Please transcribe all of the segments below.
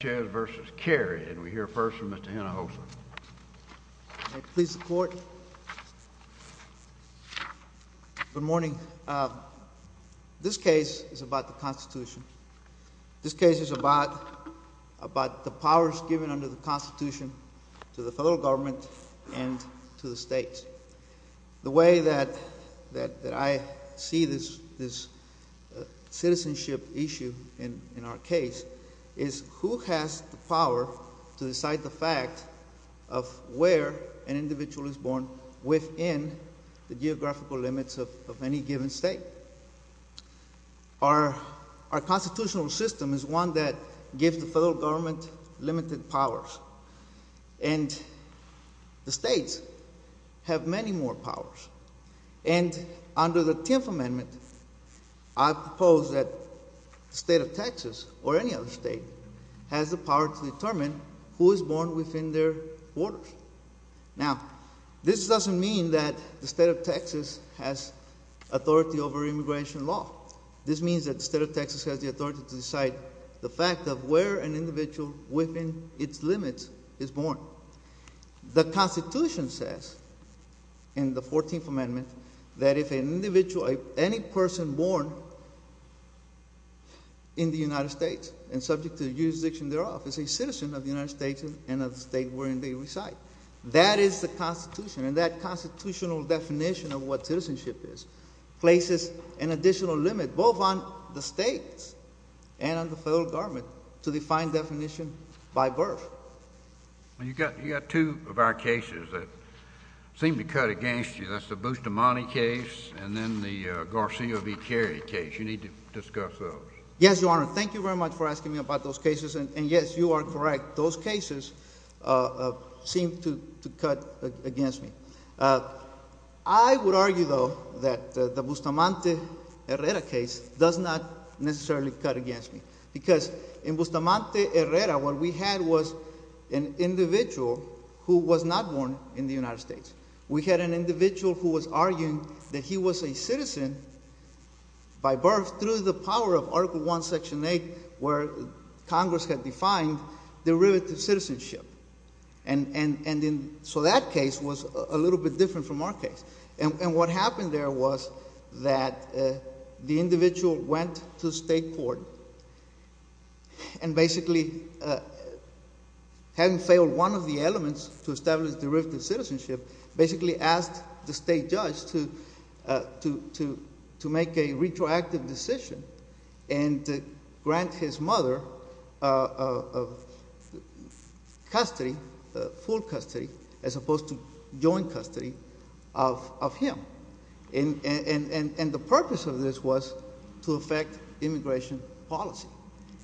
and we hear first from Mr. Hinojosa. May it please the court. Good morning. This case is about the Constitution. This case is about the powers given under the Constitution to the federal government and to the states. The way that I see this citizenship issue in our case is who has the power to decide the fact of where an individual is born within the geographical limits of any given state. Our constitutional system is one that gives the federal government limited powers. And the states have many more powers. And under the Tenth Amendment, I propose that the state of Texas or any other state has the power to determine who is born within their borders. Now, this doesn't mean that the state of Texas has authority over immigration law. This means that the state of Texas has the authority to decide the fact of where an individual within its limits is born. The Constitution says in the Fourteenth Amendment that if an individual, any person born in the United States and subject to the jurisdiction thereof is a citizen of the United States and of the state wherein they reside, that is the Constitution. And that constitutional definition of what citizenship is places an additional limit both on the states and on the federal government to define definition by birth. You've got two of our cases that seem to cut against you. That's the Garcia v. Carey case. You need to discuss those. Yes, Your Honor. Thank you very much for asking me about those cases. And yes, you are correct. Those cases seem to cut against me. I would argue, though, that the Bustamante Herrera case does not necessarily cut against me. Because in Bustamante Herrera, what we had was an individual who was not born in the United States. We had an individual who was a citizen by birth through the power of Article I, Section 8, where Congress had defined derivative citizenship. So that case was a little bit different from our case. And what happened there was that the individual went to state court and basically, having failed one of the elements to establish derivative citizenship, basically asked the state judge to make a retroactive decision and grant his mother custody, full custody, as opposed to joint custody of him. And the purpose of this was to affect immigration policy.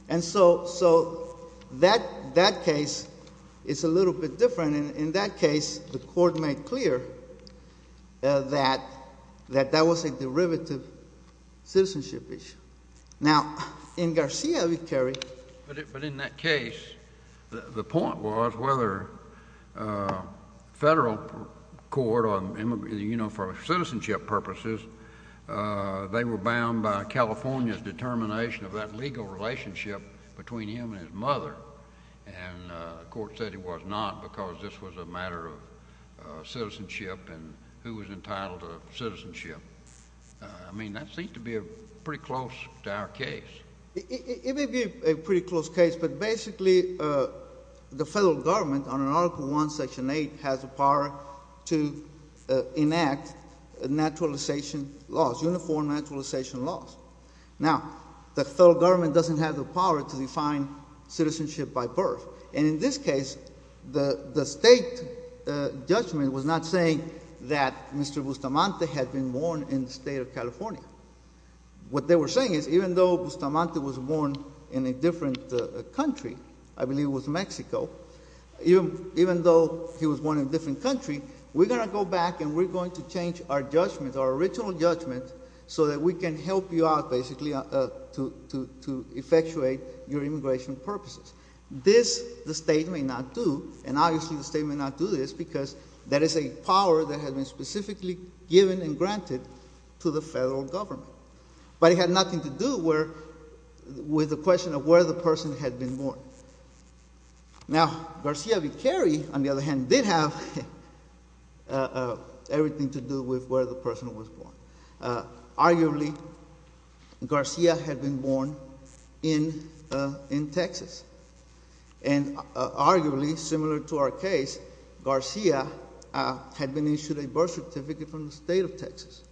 And so that case is a little bit different. In that case, the court made clear that that was a derivative citizenship issue. Now, in Garcia, we carry—But in that case, the point was whether federal court, you know, for citizenship purposes, they were bound by California's determination of that legal relationship between him and his mother. And the court said it was not because this was a matter of citizenship and who was entitled to citizenship. I mean, that seemed to be pretty close to our case. It may be a pretty close case, but basically, the federal government, under Article I, Section 8, has the power to enact naturalization laws, uniform naturalization laws. Now, the federal government doesn't have the power to define citizenship by birth. And in this case, the state judgment was not saying that Mr. Bustamante had been born in the state of California. What they were saying is, even though Bustamante was born in a different country—I believe it was Mexico— even though he was born in a different country, we're going to go back and we're going to change our judgment, our original judgment, so that we can help you out, basically, to effectuate your immigration purposes. This, the state may not do, and obviously the state may not do this, because that is a power that has been specifically given and granted to the federal government. But it had nothing to do with the question of where the person had been born. Now, Garcia Vicari, on the other hand, did have everything to do with where the person was born. Arguably, Garcia had been born in Texas. And arguably, similar to our case, Garcia had been issued a birth certificate from the state of Texas.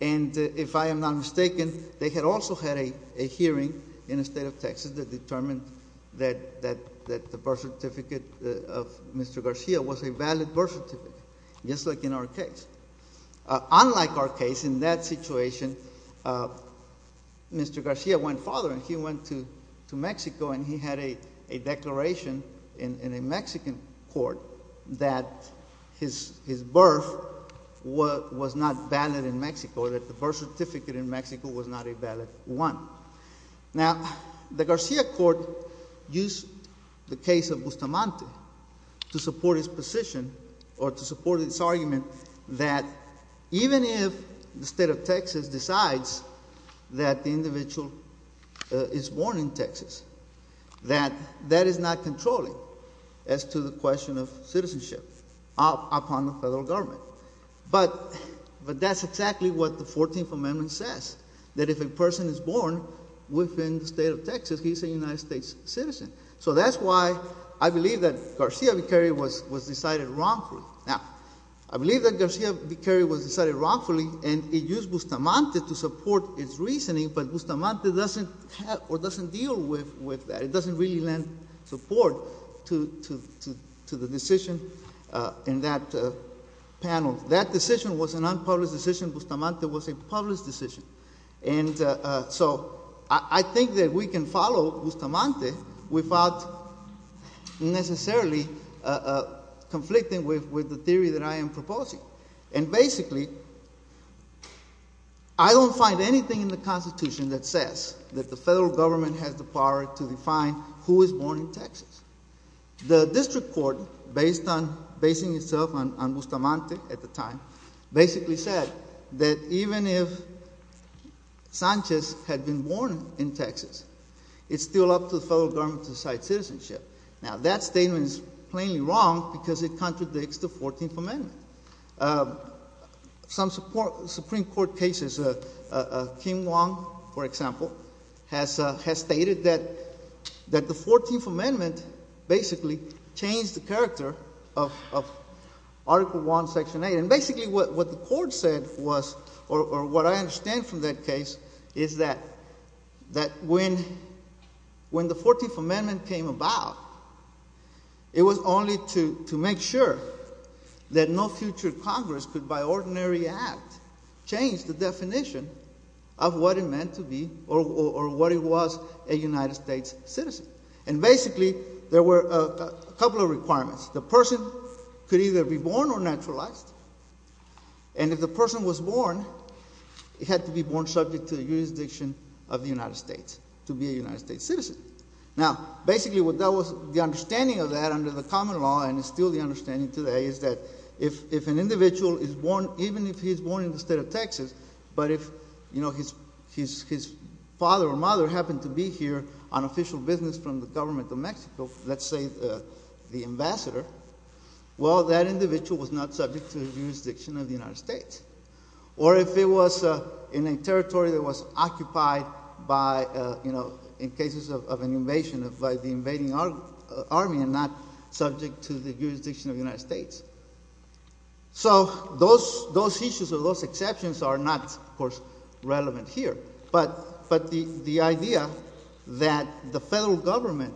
And if I am not mistaken, they had also had a hearing in the state of Texas that determined that the birth certificate of Mr. Garcia was a valid birth certificate, just like in our case. Unlike our case, in that situation, Mr. Garcia went farther and he went to Mexico and he had a declaration in a Mexican court that his birth was not valid in Mexico, that the birth certificate in Mexico was not a valid one. Now, the Garcia court used the case of Bustamante to support his position, or to support his argument, that even if the state of Texas decides that the individual is born in Texas, that that is not controlling as to the question of citizenship upon the federal government. But that's exactly what the 14th Amendment says, that if a person is born within the state of Texas, he's a United States citizen. So that's why I believe that Garcia Vicari was decided wrongfully. Now, I believe that Garcia Vicari was decided wrongfully, and it used Bustamante to support its reasoning, but Bustamante doesn't have, or doesn't deal with that. It doesn't really lend support to the decision in that panel. That decision was an unpublished decision. Bustamante was a published decision. And so, I think that we can follow Bustamante without necessarily conflicting with the theory that I am proposing. And basically, I don't find anything in the Constitution that says that the federal government has the power to define who is born in Texas. The district court, based on basing itself on Bustamante at the time, basically said that even if Sanchez had been born in Texas, it's still up to the federal government to decide citizenship. Now, that statement is plainly wrong, because it contradicts the 14th Amendment. Some Supreme Court cases, Kim Wong, for example, has stated that the 14th Amendment basically changed the character of Article I, Section 8. And basically, what the Court said was, or what I understand from that case, is that when the 14th Amendment came about, it was only to make sure that no future Congress could, by ordinary act, change the definition of what it meant to be, or what it was, a United States citizen. And basically, there were a couple of requirements. The person could either be born or naturalized. And if the person was born, it had to be born subject to the jurisdiction of the United States, to be a United States citizen. Now, basically the understanding of that under the common law, and it's still the understanding today, is that if an individual is born, even if he's born in the state of Texas, but if his father or mother happened to be here on official business from the government of Mexico, let's say the ambassador, well, that individual was not subject to the jurisdiction of the United States. Or if it was in a territory that was occupied by, you know, in cases of an invasion by the invading army and not subject to the jurisdiction of the United States. So those issues or those exceptions are not, of course, relevant here. But the idea that the federal government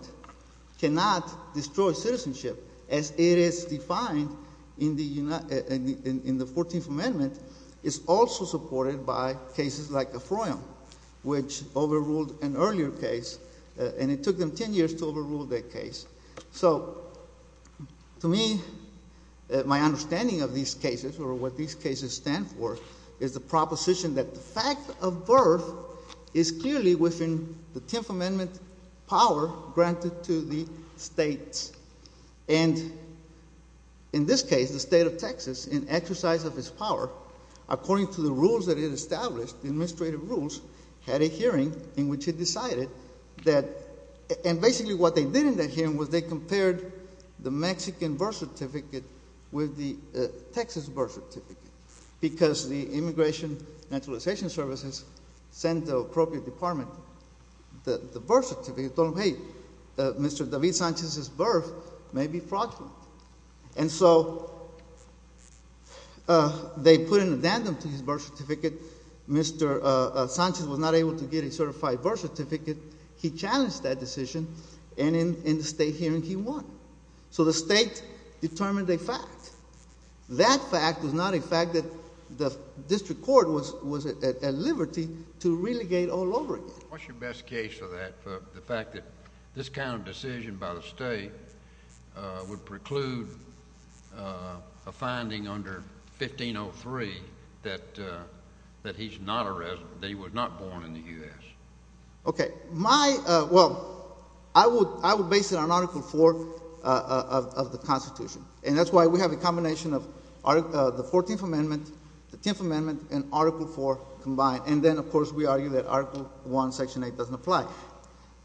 cannot destroy citizenship as it is defined in the 14th Amendment is also supported by cases like the Froyum, which overruled an earlier case, and it took them 10 years to overrule that case. So, to me, my understanding of these cases, or what these cases stand for, is the proposition that the fact of birth is clearly within the 10th Amendment power granted to the states. And in this case, the state of Texas, in exercise of its power, according to the rules that it established, the administrative rules, had a hearing in which it decided that and basically what they did in that hearing was they compared the Mexican birth certificate with the Texas birth certificate because the Immigration and Naturalization Services sent the appropriate department the birth certificate, told them, hey, Mr. David Sanchez's birth may be fraudulent. And so they put an addendum to his birth certificate. Mr. Sanchez was not able to get a certified birth certificate. He challenged that decision, and in the state hearing, he won. So the state determined a fact. That fact was not a fact that the district court was at liberty to relegate all over again. What's your best case of that, the fact that this kind of decision by the state would preclude a finding under 1503 that he's not a resident, that he was not born in the U.S.? Well, I would base it on Article 4 of the Constitution. And that's why we have a combination of the 14th Amendment, the 10th Amendment, and Article 4 combined. And then, of course, we argue that Article 1, Section 8 doesn't apply.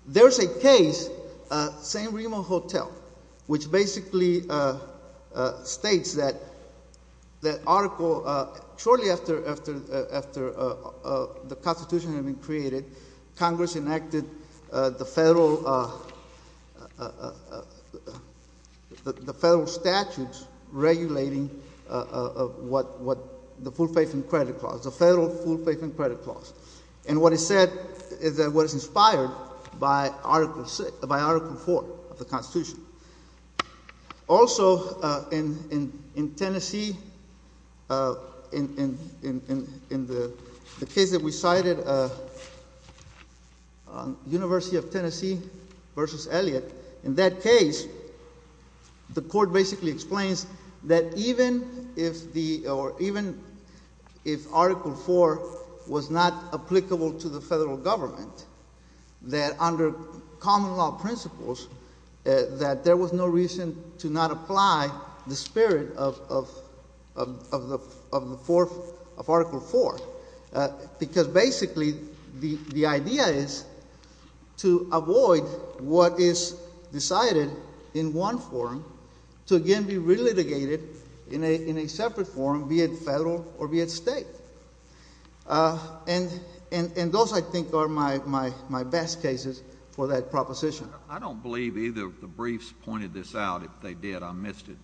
There's a case in St. Remo Hotel, which basically states that article, shortly after the Constitution had been created, Congress enacted the federal statutes regulating what the full faith and credit clause, the federal full faith and credit clause. And what it said is that what is inspired by Article 4 of the Constitution. Also, in Tennessee, in the case that we cited, University of Tennessee versus Elliott, in that case, the court basically explains that even if the, or even if Article 4 was not applicable to the common law principles, that there was no reason to not apply the spirit of Article 4. Because basically, the idea is to avoid what is decided in one forum to again be relitigated in a separate forum, be it federal or be it state. And those I think are my best cases for that proposition. I don't believe either of the briefs pointed this out. If they did, I missed it.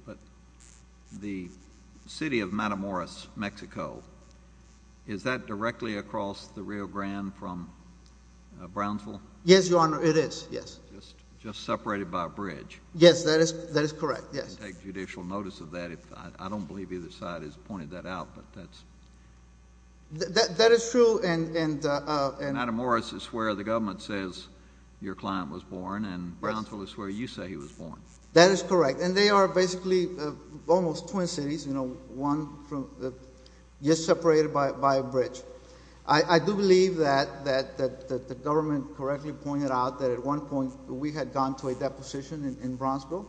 The city of Matamoros, Mexico, is that directly across the Rio Grande from Brownsville? Yes, Your Honor, it is, yes. Just separated by a bridge. Yes, that is correct, yes. I'll take judicial notice of that. I don't believe either side has pointed that out, but that's true. That is true, and Matamoros is where the government says your client was born, and Brownsville is where you say he was born. That is correct. And they are basically almost twin cities, you know, just separated by a bridge. I do believe that the government correctly pointed out that at one point we had gone to a deposition in Brownsville,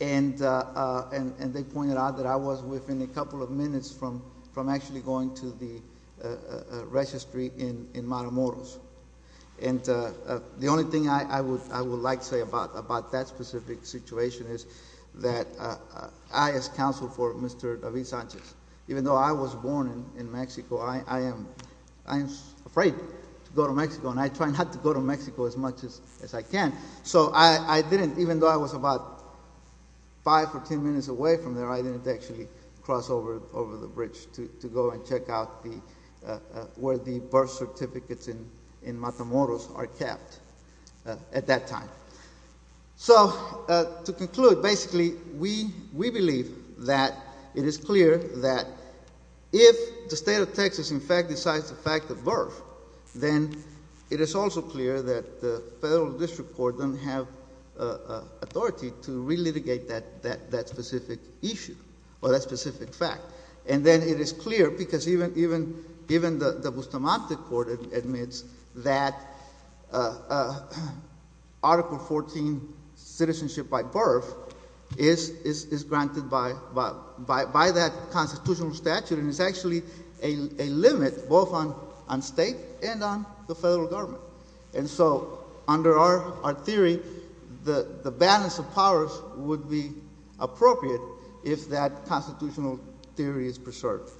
and they pointed out that I was within a couple of minutes from actually going to the registry in Matamoros. And the only thing I would like to say about that specific situation is that I, as counsel for Mr. David Sanchez, even though I was born in Mexico, I am afraid to go to Mexico, and I try not to go to Mexico as much as I can. So I didn't, even though I was about five or ten minutes away from there, I didn't actually cross over the bridge to go and check out where the birth certificates in Matamoros are kept at that time. So to conclude, basically we believe that it is clear that if the state of Texas in fact decides the fact of birth, then it is also clear that the federal district court doesn't have authority to re-litigate that specific issue, or that specific fact. And then it is clear, because even the Bustamante court admits that Article 14 citizenship by birth is granted by that constitutional statute, and it's actually a limit both on state and on the federal government. And so under our theory, the balance of powers would be appropriate if that constitutional theory is preserved.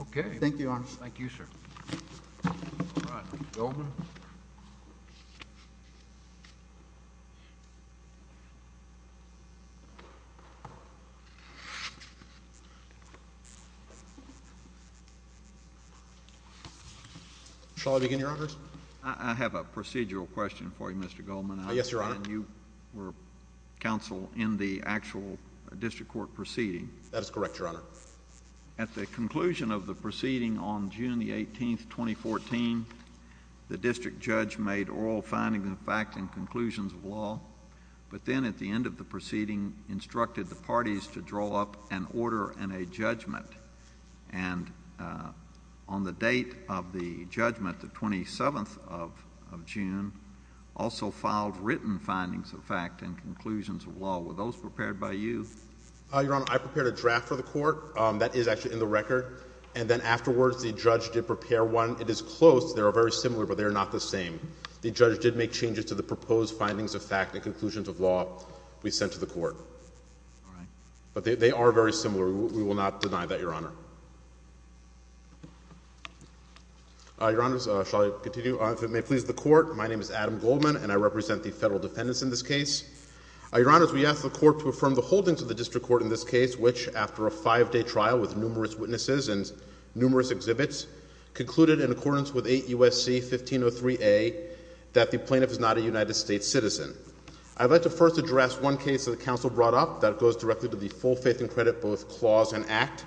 Okay. Thank you, Your Honor. Thank you, sir. Shall I begin, Your Honors? I have a procedural question for you, Mr. Goldman. Yes, Your Honor. I understand you were counsel in the actual district court proceeding. That is correct, Your Honor. At the conclusion of the proceeding on June the 18th, 2014, the district judge made oral findings and facts and conclusions of law, but then at the end of the proceeding instructed the parties to draw up an order and a judgment. And on the date of the judgment, the district judge also filed written findings of fact and conclusions of law. Were those prepared by you? Your Honor, I prepared a draft for the court. That is actually in the record. And then afterwards, the judge did prepare one. It is close. They are very similar, but they are not the same. The judge did make changes to the proposed findings of fact and conclusions of law we sent to the court. But they are very similar. We will not deny that, Your Honor. Your Honors, shall I continue? If it may please the court, my name is Adam Goldman, and I represent the federal defendants in this case. Your Honors, we ask the court to affirm the holdings of the district court in this case, which, after a five-day trial with numerous witnesses and numerous exhibits, concluded in accordance with 8 U.S.C. 1503A that the plaintiff is not a United States citizen. I would like to first address one case that the counsel brought up that goes directly to the full faith and credit both clause and act,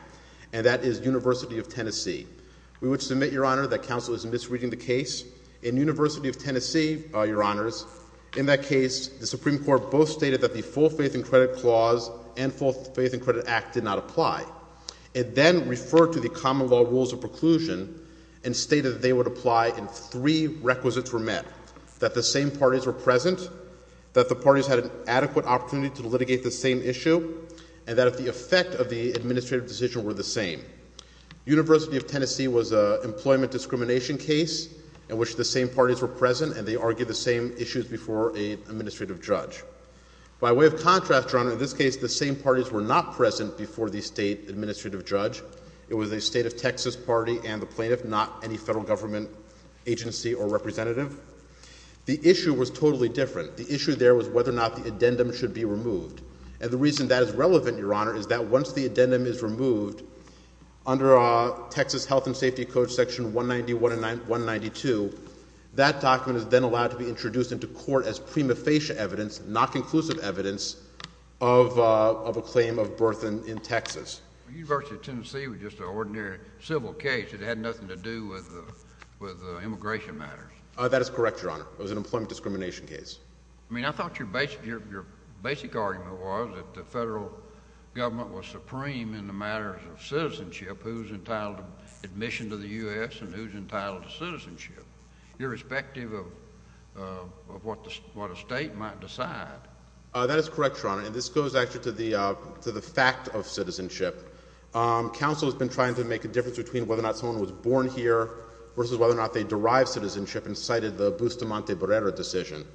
and that is University of Tennessee. We would submit, Your Honor, that counsel is misreading the case. In University of Tennessee, Your Honors, in that case, the Supreme Court both stated that the full faith and credit clause and full faith and credit act did not apply. It then referred to the common law rules of preclusion and stated that they would apply if three requisites were met, that the same parties were present, that the parties had an adequate opportunity to litigate the same issue, and that the effect of the administrative decision were the same. University of Tennessee was an employment discrimination case in which the same parties were present and they argued the same issues before an administrative judge. By way of contrast, Your Honor, in this case, the same parties were not present before the state administrative judge. It was the state of Texas party and the plaintiff, not any federal government agency or representative. The issue was totally different. The issue there was whether or not the addendum should be removed. And the reason that is relevant, Your Honor, is that once the addendum is removed, under Texas Health and Safety Code Section 191 and 192, that document is then allowed to be introduced into court as prima facie evidence, not conclusive evidence, of a claim of birth in Texas. University of Tennessee was just an ordinary civil case. It had nothing to do with immigration matters. That is correct, Your Honor. It was an employment discrimination case. I mean, I thought your basic argument was that the federal government was supreme in the matters of citizenship, who is entitled to admission to the U.S. and who is entitled to citizenship, irrespective of what a state might decide. That is correct, Your Honor. And this goes actually to the fact of citizenship. Counsel has been trying to make a difference between whether or not someone was born here versus whether or not they derived citizenship and cited the Bustamante Brera decision.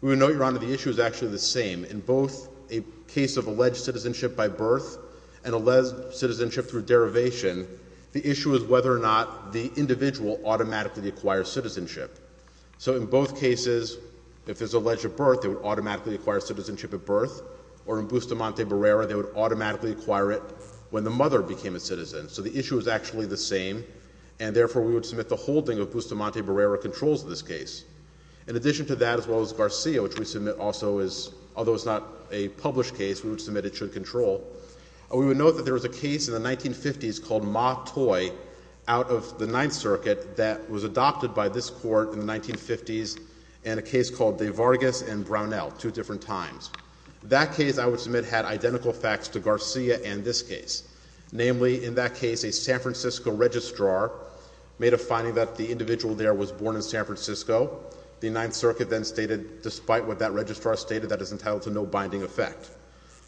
We know, Your Honor, the issue is actually the alleged citizenship by birth and alleged citizenship through derivation. The issue is whether or not the individual automatically acquires citizenship. So in both cases, if there's alleged birth, they would automatically acquire citizenship at birth, or in Bustamante Brera, they would automatically acquire it when the mother became a citizen. So the issue is actually the same, and therefore we would submit the holding of Bustamante Brera controls in this case. In addition to that, as well as Garcia, which we submit also as a case, although it's not a published case, we would submit it should control, we would note that there was a case in the 1950s called Mottoy out of the Ninth Circuit that was adopted by this Court in the 1950s and a case called De Vargas and Brownell, two different times. That case, I would submit, had identical facts to Garcia and this case, namely, in that case, a San Francisco registrar made a finding that the individual there was born in San Francisco. The Ninth Circuit then stated, despite what that registrar stated, that is entitled to no binding effect.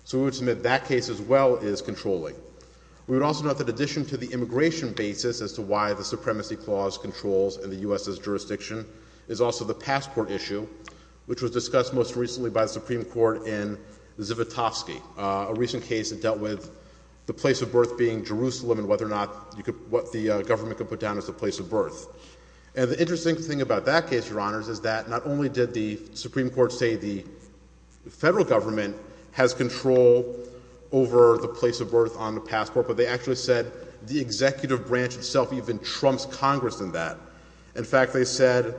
So we would submit that case as well is controlling. We would also note that in addition to the immigration basis as to why the Supremacy Clause controls in the U.S.'s jurisdiction is also the passport issue, which was discussed most recently by the Supreme Court in Zivotofsky, a recent case that dealt with the place of birth being Jerusalem and whether or not the government could put down as the place of birth. And the interesting thing about that case, Your Honors, is that not only did the Supreme Court say the Federal Government has control over the place of birth on the passport, but they actually said the executive branch itself even trumps Congress in that. In fact, they said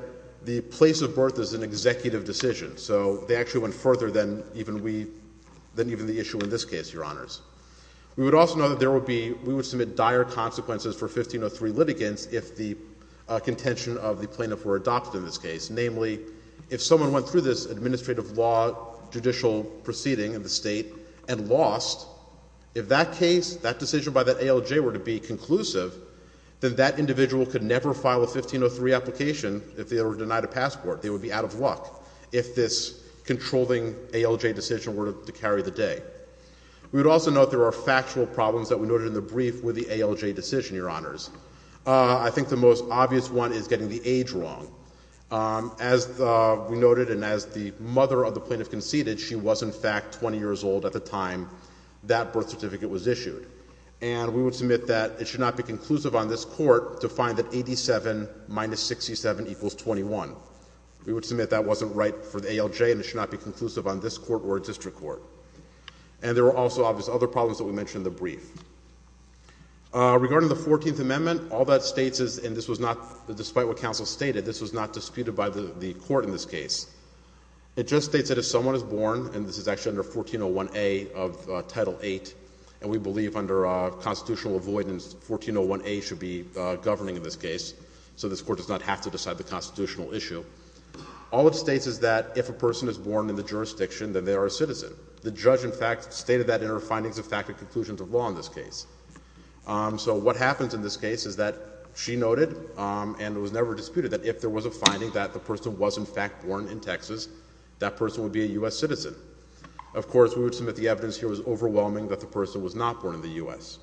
the place of birth is an executive decision. So they actually went further than even we than even the issue in this case, Your Honors. We would also note that there would be we would submit dire consequences for 1503 litigants if the case, namely if someone went through this administrative law judicial proceeding in the State and lost, if that case that decision by that ALJ were to be conclusive, then that individual could never file a 1503 application if they were denied a passport. They would be out of luck if this controlling ALJ decision were to carry the day. We would also note there are factual problems that we noted in the brief with the ALJ decision, Your Honors. I think the most obvious one is getting the age wrong. As we noted and as the mother of the plaintiff conceded, she was in fact 20 years old at the time that birth certificate was issued. And we would submit that it should not be conclusive on this Court to find that 87 minus 67 equals 21. We would submit that wasn't right for the ALJ and it should not be conclusive on this Court or a district court. And there were also obvious other problems that we mentioned in the brief. Regarding the 14th Amendment, all that states is, and this was not, despite what counsel stated, this was not disputed by the Court in this case. It just states that if someone is born and this is actually under 1401A of Title VIII, and we believe under constitutional avoidance, 1401A should be governing in this case, so this Court does not have to decide the constitutional issue. All it states is that if a person is born in the jurisdiction, then they are a citizen. The judge in fact stated that in her findings of fact and conclusions of law in this case. So what happens in this case is that she noted and it was never disputed that if there was a finding that the person was in fact born in Texas, that person would be a U.S. citizen. Of course, we would submit the evidence here was overwhelming that the person was not born in the U.S.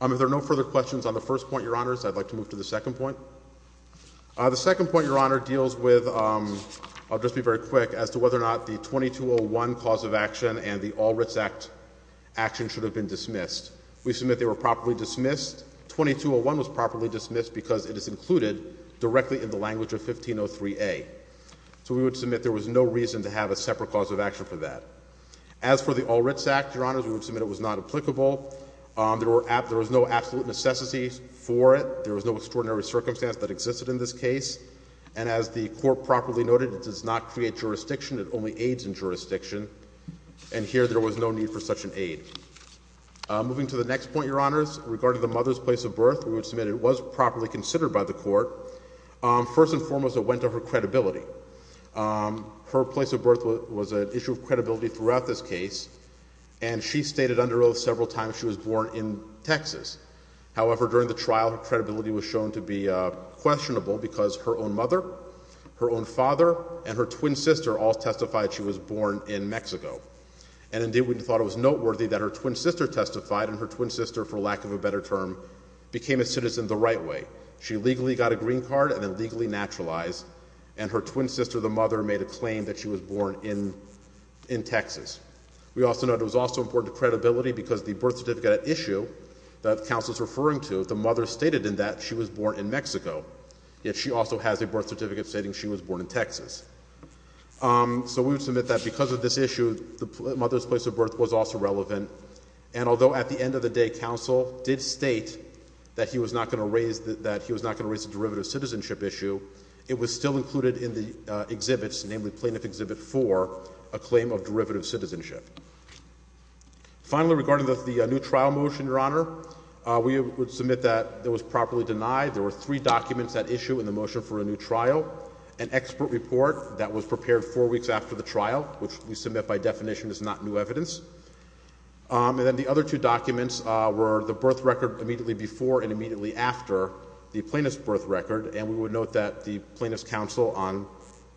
If there are no further questions on the first point, Your Honors, I'd like to move to the second point. The second point, Your Honor, deals with, I'll just be very quick, as to whether or not the 2201 cause of action and the 1503A were properly dismissed. We submit they were properly dismissed. 2201 was properly dismissed because it is included directly in the language of 1503A. So we would submit there was no reason to have a separate cause of action for that. As for the Ulrich Act, Your Honors, we would submit it was not applicable. There was no absolute necessity for it. There was no extraordinary circumstance that existed in this case. And as the Court properly noted, it does not create jurisdiction. It only aids in jurisdiction. And here, there was no need for such an aid. Moving to the next point, Your Honors, regarding the mother's place of birth, we would submit it was properly considered by the Court. First and foremost, it went to her credibility. Her place of birth was an issue of credibility throughout this case. And she stated under oath several times she was born in Texas. However, during the trial, her credibility was shown to be questionable because her own mother, her own father, and her twin sister all testified she was born in Mexico. And indeed, we thought it was noteworthy that her twin sister testified and her twin sister, for lack of a better term, became a citizen the right way. She legally got a green card and then legally naturalized and her twin sister, the mother, made a claim that she was born in Texas. We also noted it was also important to credibility because the birth certificate at issue that the counsel is referring to, the mother stated in that she was born in Mexico, yet she also has a birth certificate stating she was born in Texas. So we would submit that because of this issue, the mother's place of birth was also relevant. And although at the end of the day counsel did state that he was not going to raise a derivative citizenship issue, it was still included in the exhibits, namely Plaintiff Exhibit 4, a claim of derivative citizenship. Finally, regarding the new trial motion, Your Honor, we would submit that it was properly denied. There were three documents at issue in the motion for a new trial. An expert report that was prepared four weeks after the trial, which we submit by definition is not new evidence. And then the other two documents were the birth record immediately before and immediately after the plaintiff's birth record. And we would note that the plaintiff's counsel on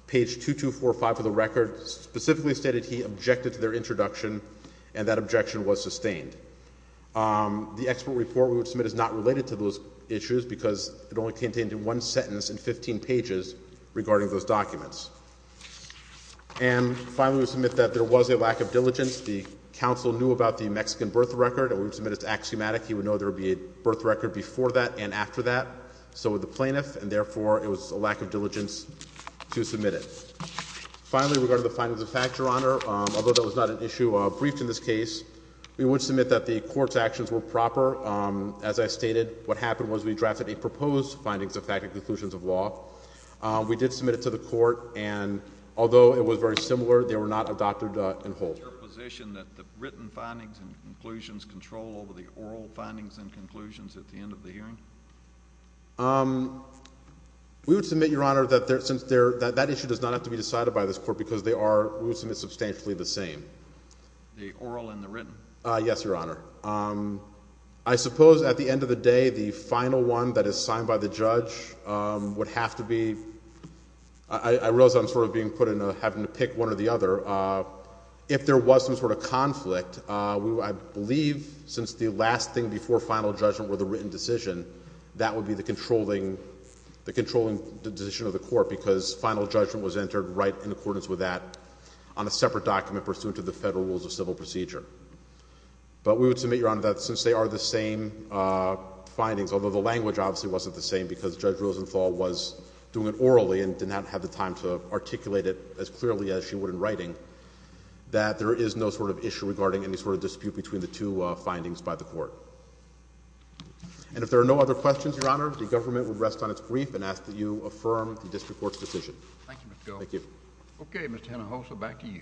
page 2245 of the record specifically stated he objected to their introduction and that objection was sustained. The expert report we would submit is not related to those issues because it only contained one sentence in 15 pages regarding those documents. And finally, we would submit that there was a lack of diligence. The counsel knew about the Mexican birth record and we would submit it as axiomatic. He would know there would be a birth record before that and after that. So would the plaintiff, and therefore it was a lack of diligence to submit it. Finally, regarding the findings of fact, Your Honor, although that was not an issue briefed in this case, we would submit that the Court's actions were proper. As I stated, what happened was we drafted a proposed findings of fact and conclusions of law. We did submit it to the Court and although it was very similar, they were not adopted in whole. Is it your position that the written findings and conclusions control over the oral findings and conclusions at the end of the hearing? We would submit, Your Honor, that that issue does not have to be decided by this Court because they are substantially the same. The oral and the written? Yes, Your Honor. I suppose at the end of the day the final one that is signed by the judge would have to be I realize I'm sort of being put in a having to pick one or the other. If there was some sort of conflict, I believe since the last thing before final judgment were the written decision, that would be the controlling decision of the Court because final judgment was entered right in accordance with that on a separate document pursuant to the Federal Rules of Civil Procedure. But we would submit, Your Honor, that since they are the same findings, although the language obviously wasn't the same because Judge Rosenthal was doing it orally and did not have the time to articulate it as clearly as she would in writing, that there is no sort of issue regarding any sort of dispute between the two findings by the Court. And if there are no other questions, Your Honor, the government would rest on its brief and ask that you affirm the district court's decision. Thank you, Mr. Gold. Thank you. Okay, Mr. Hinojosa, back to you.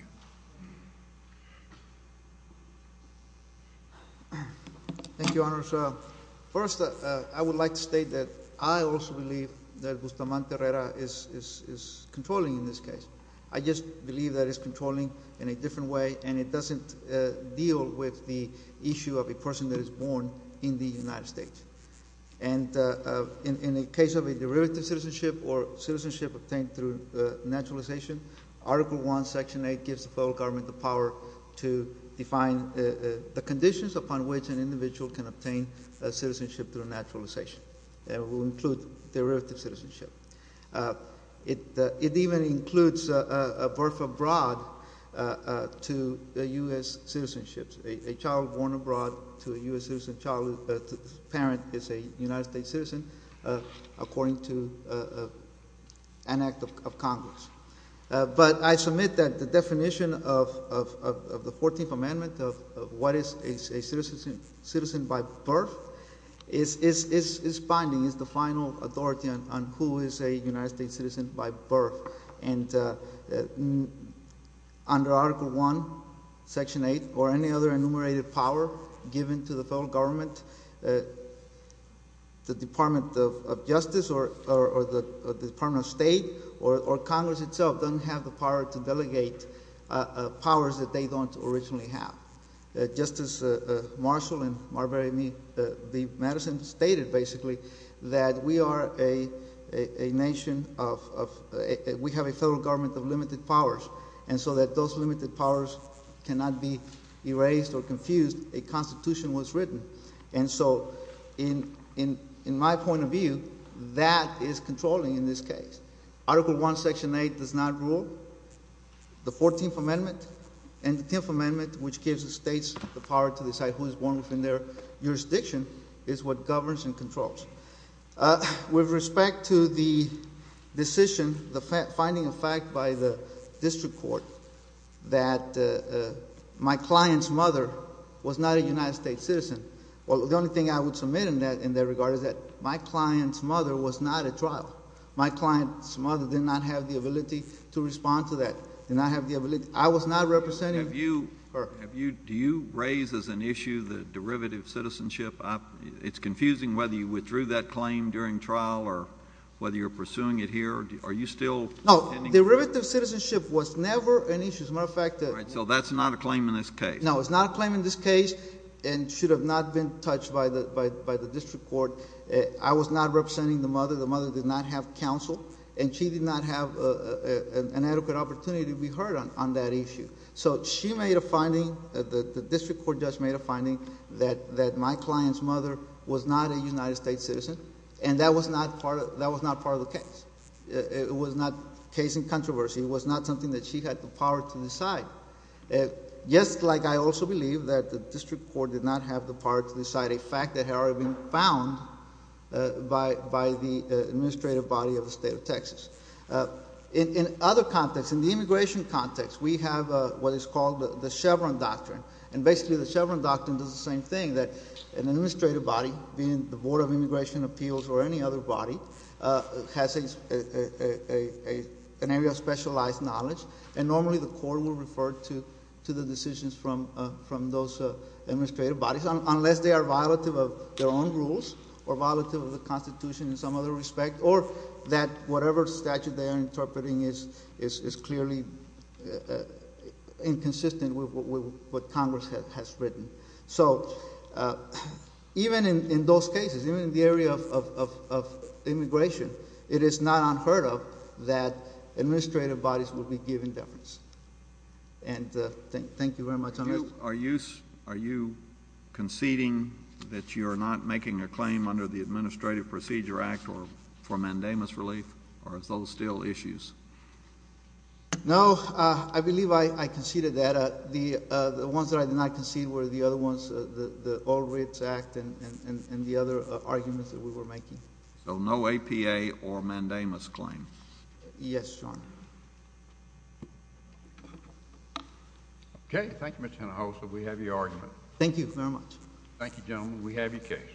Thank you, Your Honor. First, I would like to state that I also believe that Guzman-Terrera is controlling in this case. I just believe that it's controlling in a different way and it doesn't deal with the issue of a person that is born in the United States. And in the case of a derivative citizenship or citizenship obtained through naturalization, Article I, Section 8 gives the federal government the power to define the conditions upon which an individual can obtain a citizenship through naturalization. It will include derivative citizenship. It even includes a birth abroad to U.S. citizenships. A child born abroad to a U.S. citizen parent is a United States citizen, according to an act of Congress. But I submit that the definition of the 14th Amendment of what is a citizen by birth is binding, is the final authority on who is a United States citizen by birth. Under Article I, Section 8, or any other enumerated power given to the federal government, the Department of Justice or the Department of State or Congress itself doesn't have the power to delegate powers that they don't originally have. Justice Marshall and Marbury v. Madison stated, basically, that we are a nation of, we have a federal government of limited powers, and so that those limited powers cannot be erased or confused, a constitution was written. And so, in my point of view, that is controlling in this case. Article I, Section 8 does not rule. The 14th Amendment and the 10th Amendment, which gives the states the power to decide who is born within their jurisdiction, is what governs and controls. With respect to the decision, the finding of fact by the district court that my client's mother was not a United States citizen, well, the only thing I would submit in that regard is that my client's mother was not at trial. My client's mother did not have the ability to respond to that. I was not representing her. Do you raise as an issue the derivative citizenship? It's confusing whether you withdrew that claim during trial or whether you're pursuing it here. Are you still... No. Derivative citizenship was never an issue. As a matter of fact... So that's not a claim in this case. No, it's not a claim in this case and should have not been touched by the district court. I was not representing the mother. The mother did not have counsel and she did not have an adequate opportunity to be heard on that issue. So she made a finding, the district court just made a finding that my client's mother was not a United States citizen and that was not part of the case. It was not a case in controversy. It was not something that she had the power to decide. Just like I also believe that the district court did not have the power to decide a fact that had already been found by the administrative body of the state of Texas. In other contexts, in the immigration context, we have what is called the Chevron Doctrine. And basically the Chevron Doctrine does the same thing, that an administrative body, being the Board of Immigration Appeals or any other body, has an area of specialized knowledge. And normally the court will refer to the decisions from those administrative bodies, unless they are violative of their own rules, or violative of the Constitution in some other respect, or that whatever statute they are interpreting is clearly inconsistent with what Congress has written. So, even in those cases, even in the area of immigration, it is not unheard of that administrative bodies will be given deference. And thank you very much. Are you conceding that you are not making a claim under the Administrative Procedure Act for mandamus relief, or are those still issues? No, I believe I conceded that. The ones that I did not concede were the other ones, the arguments that we were making. So no APA or mandamus claim? Yes, Your Honor. Okay. Thank you, Mr. Hinojosa. We have your argument. Thank you very much. Thank you, gentlemen. We have your case.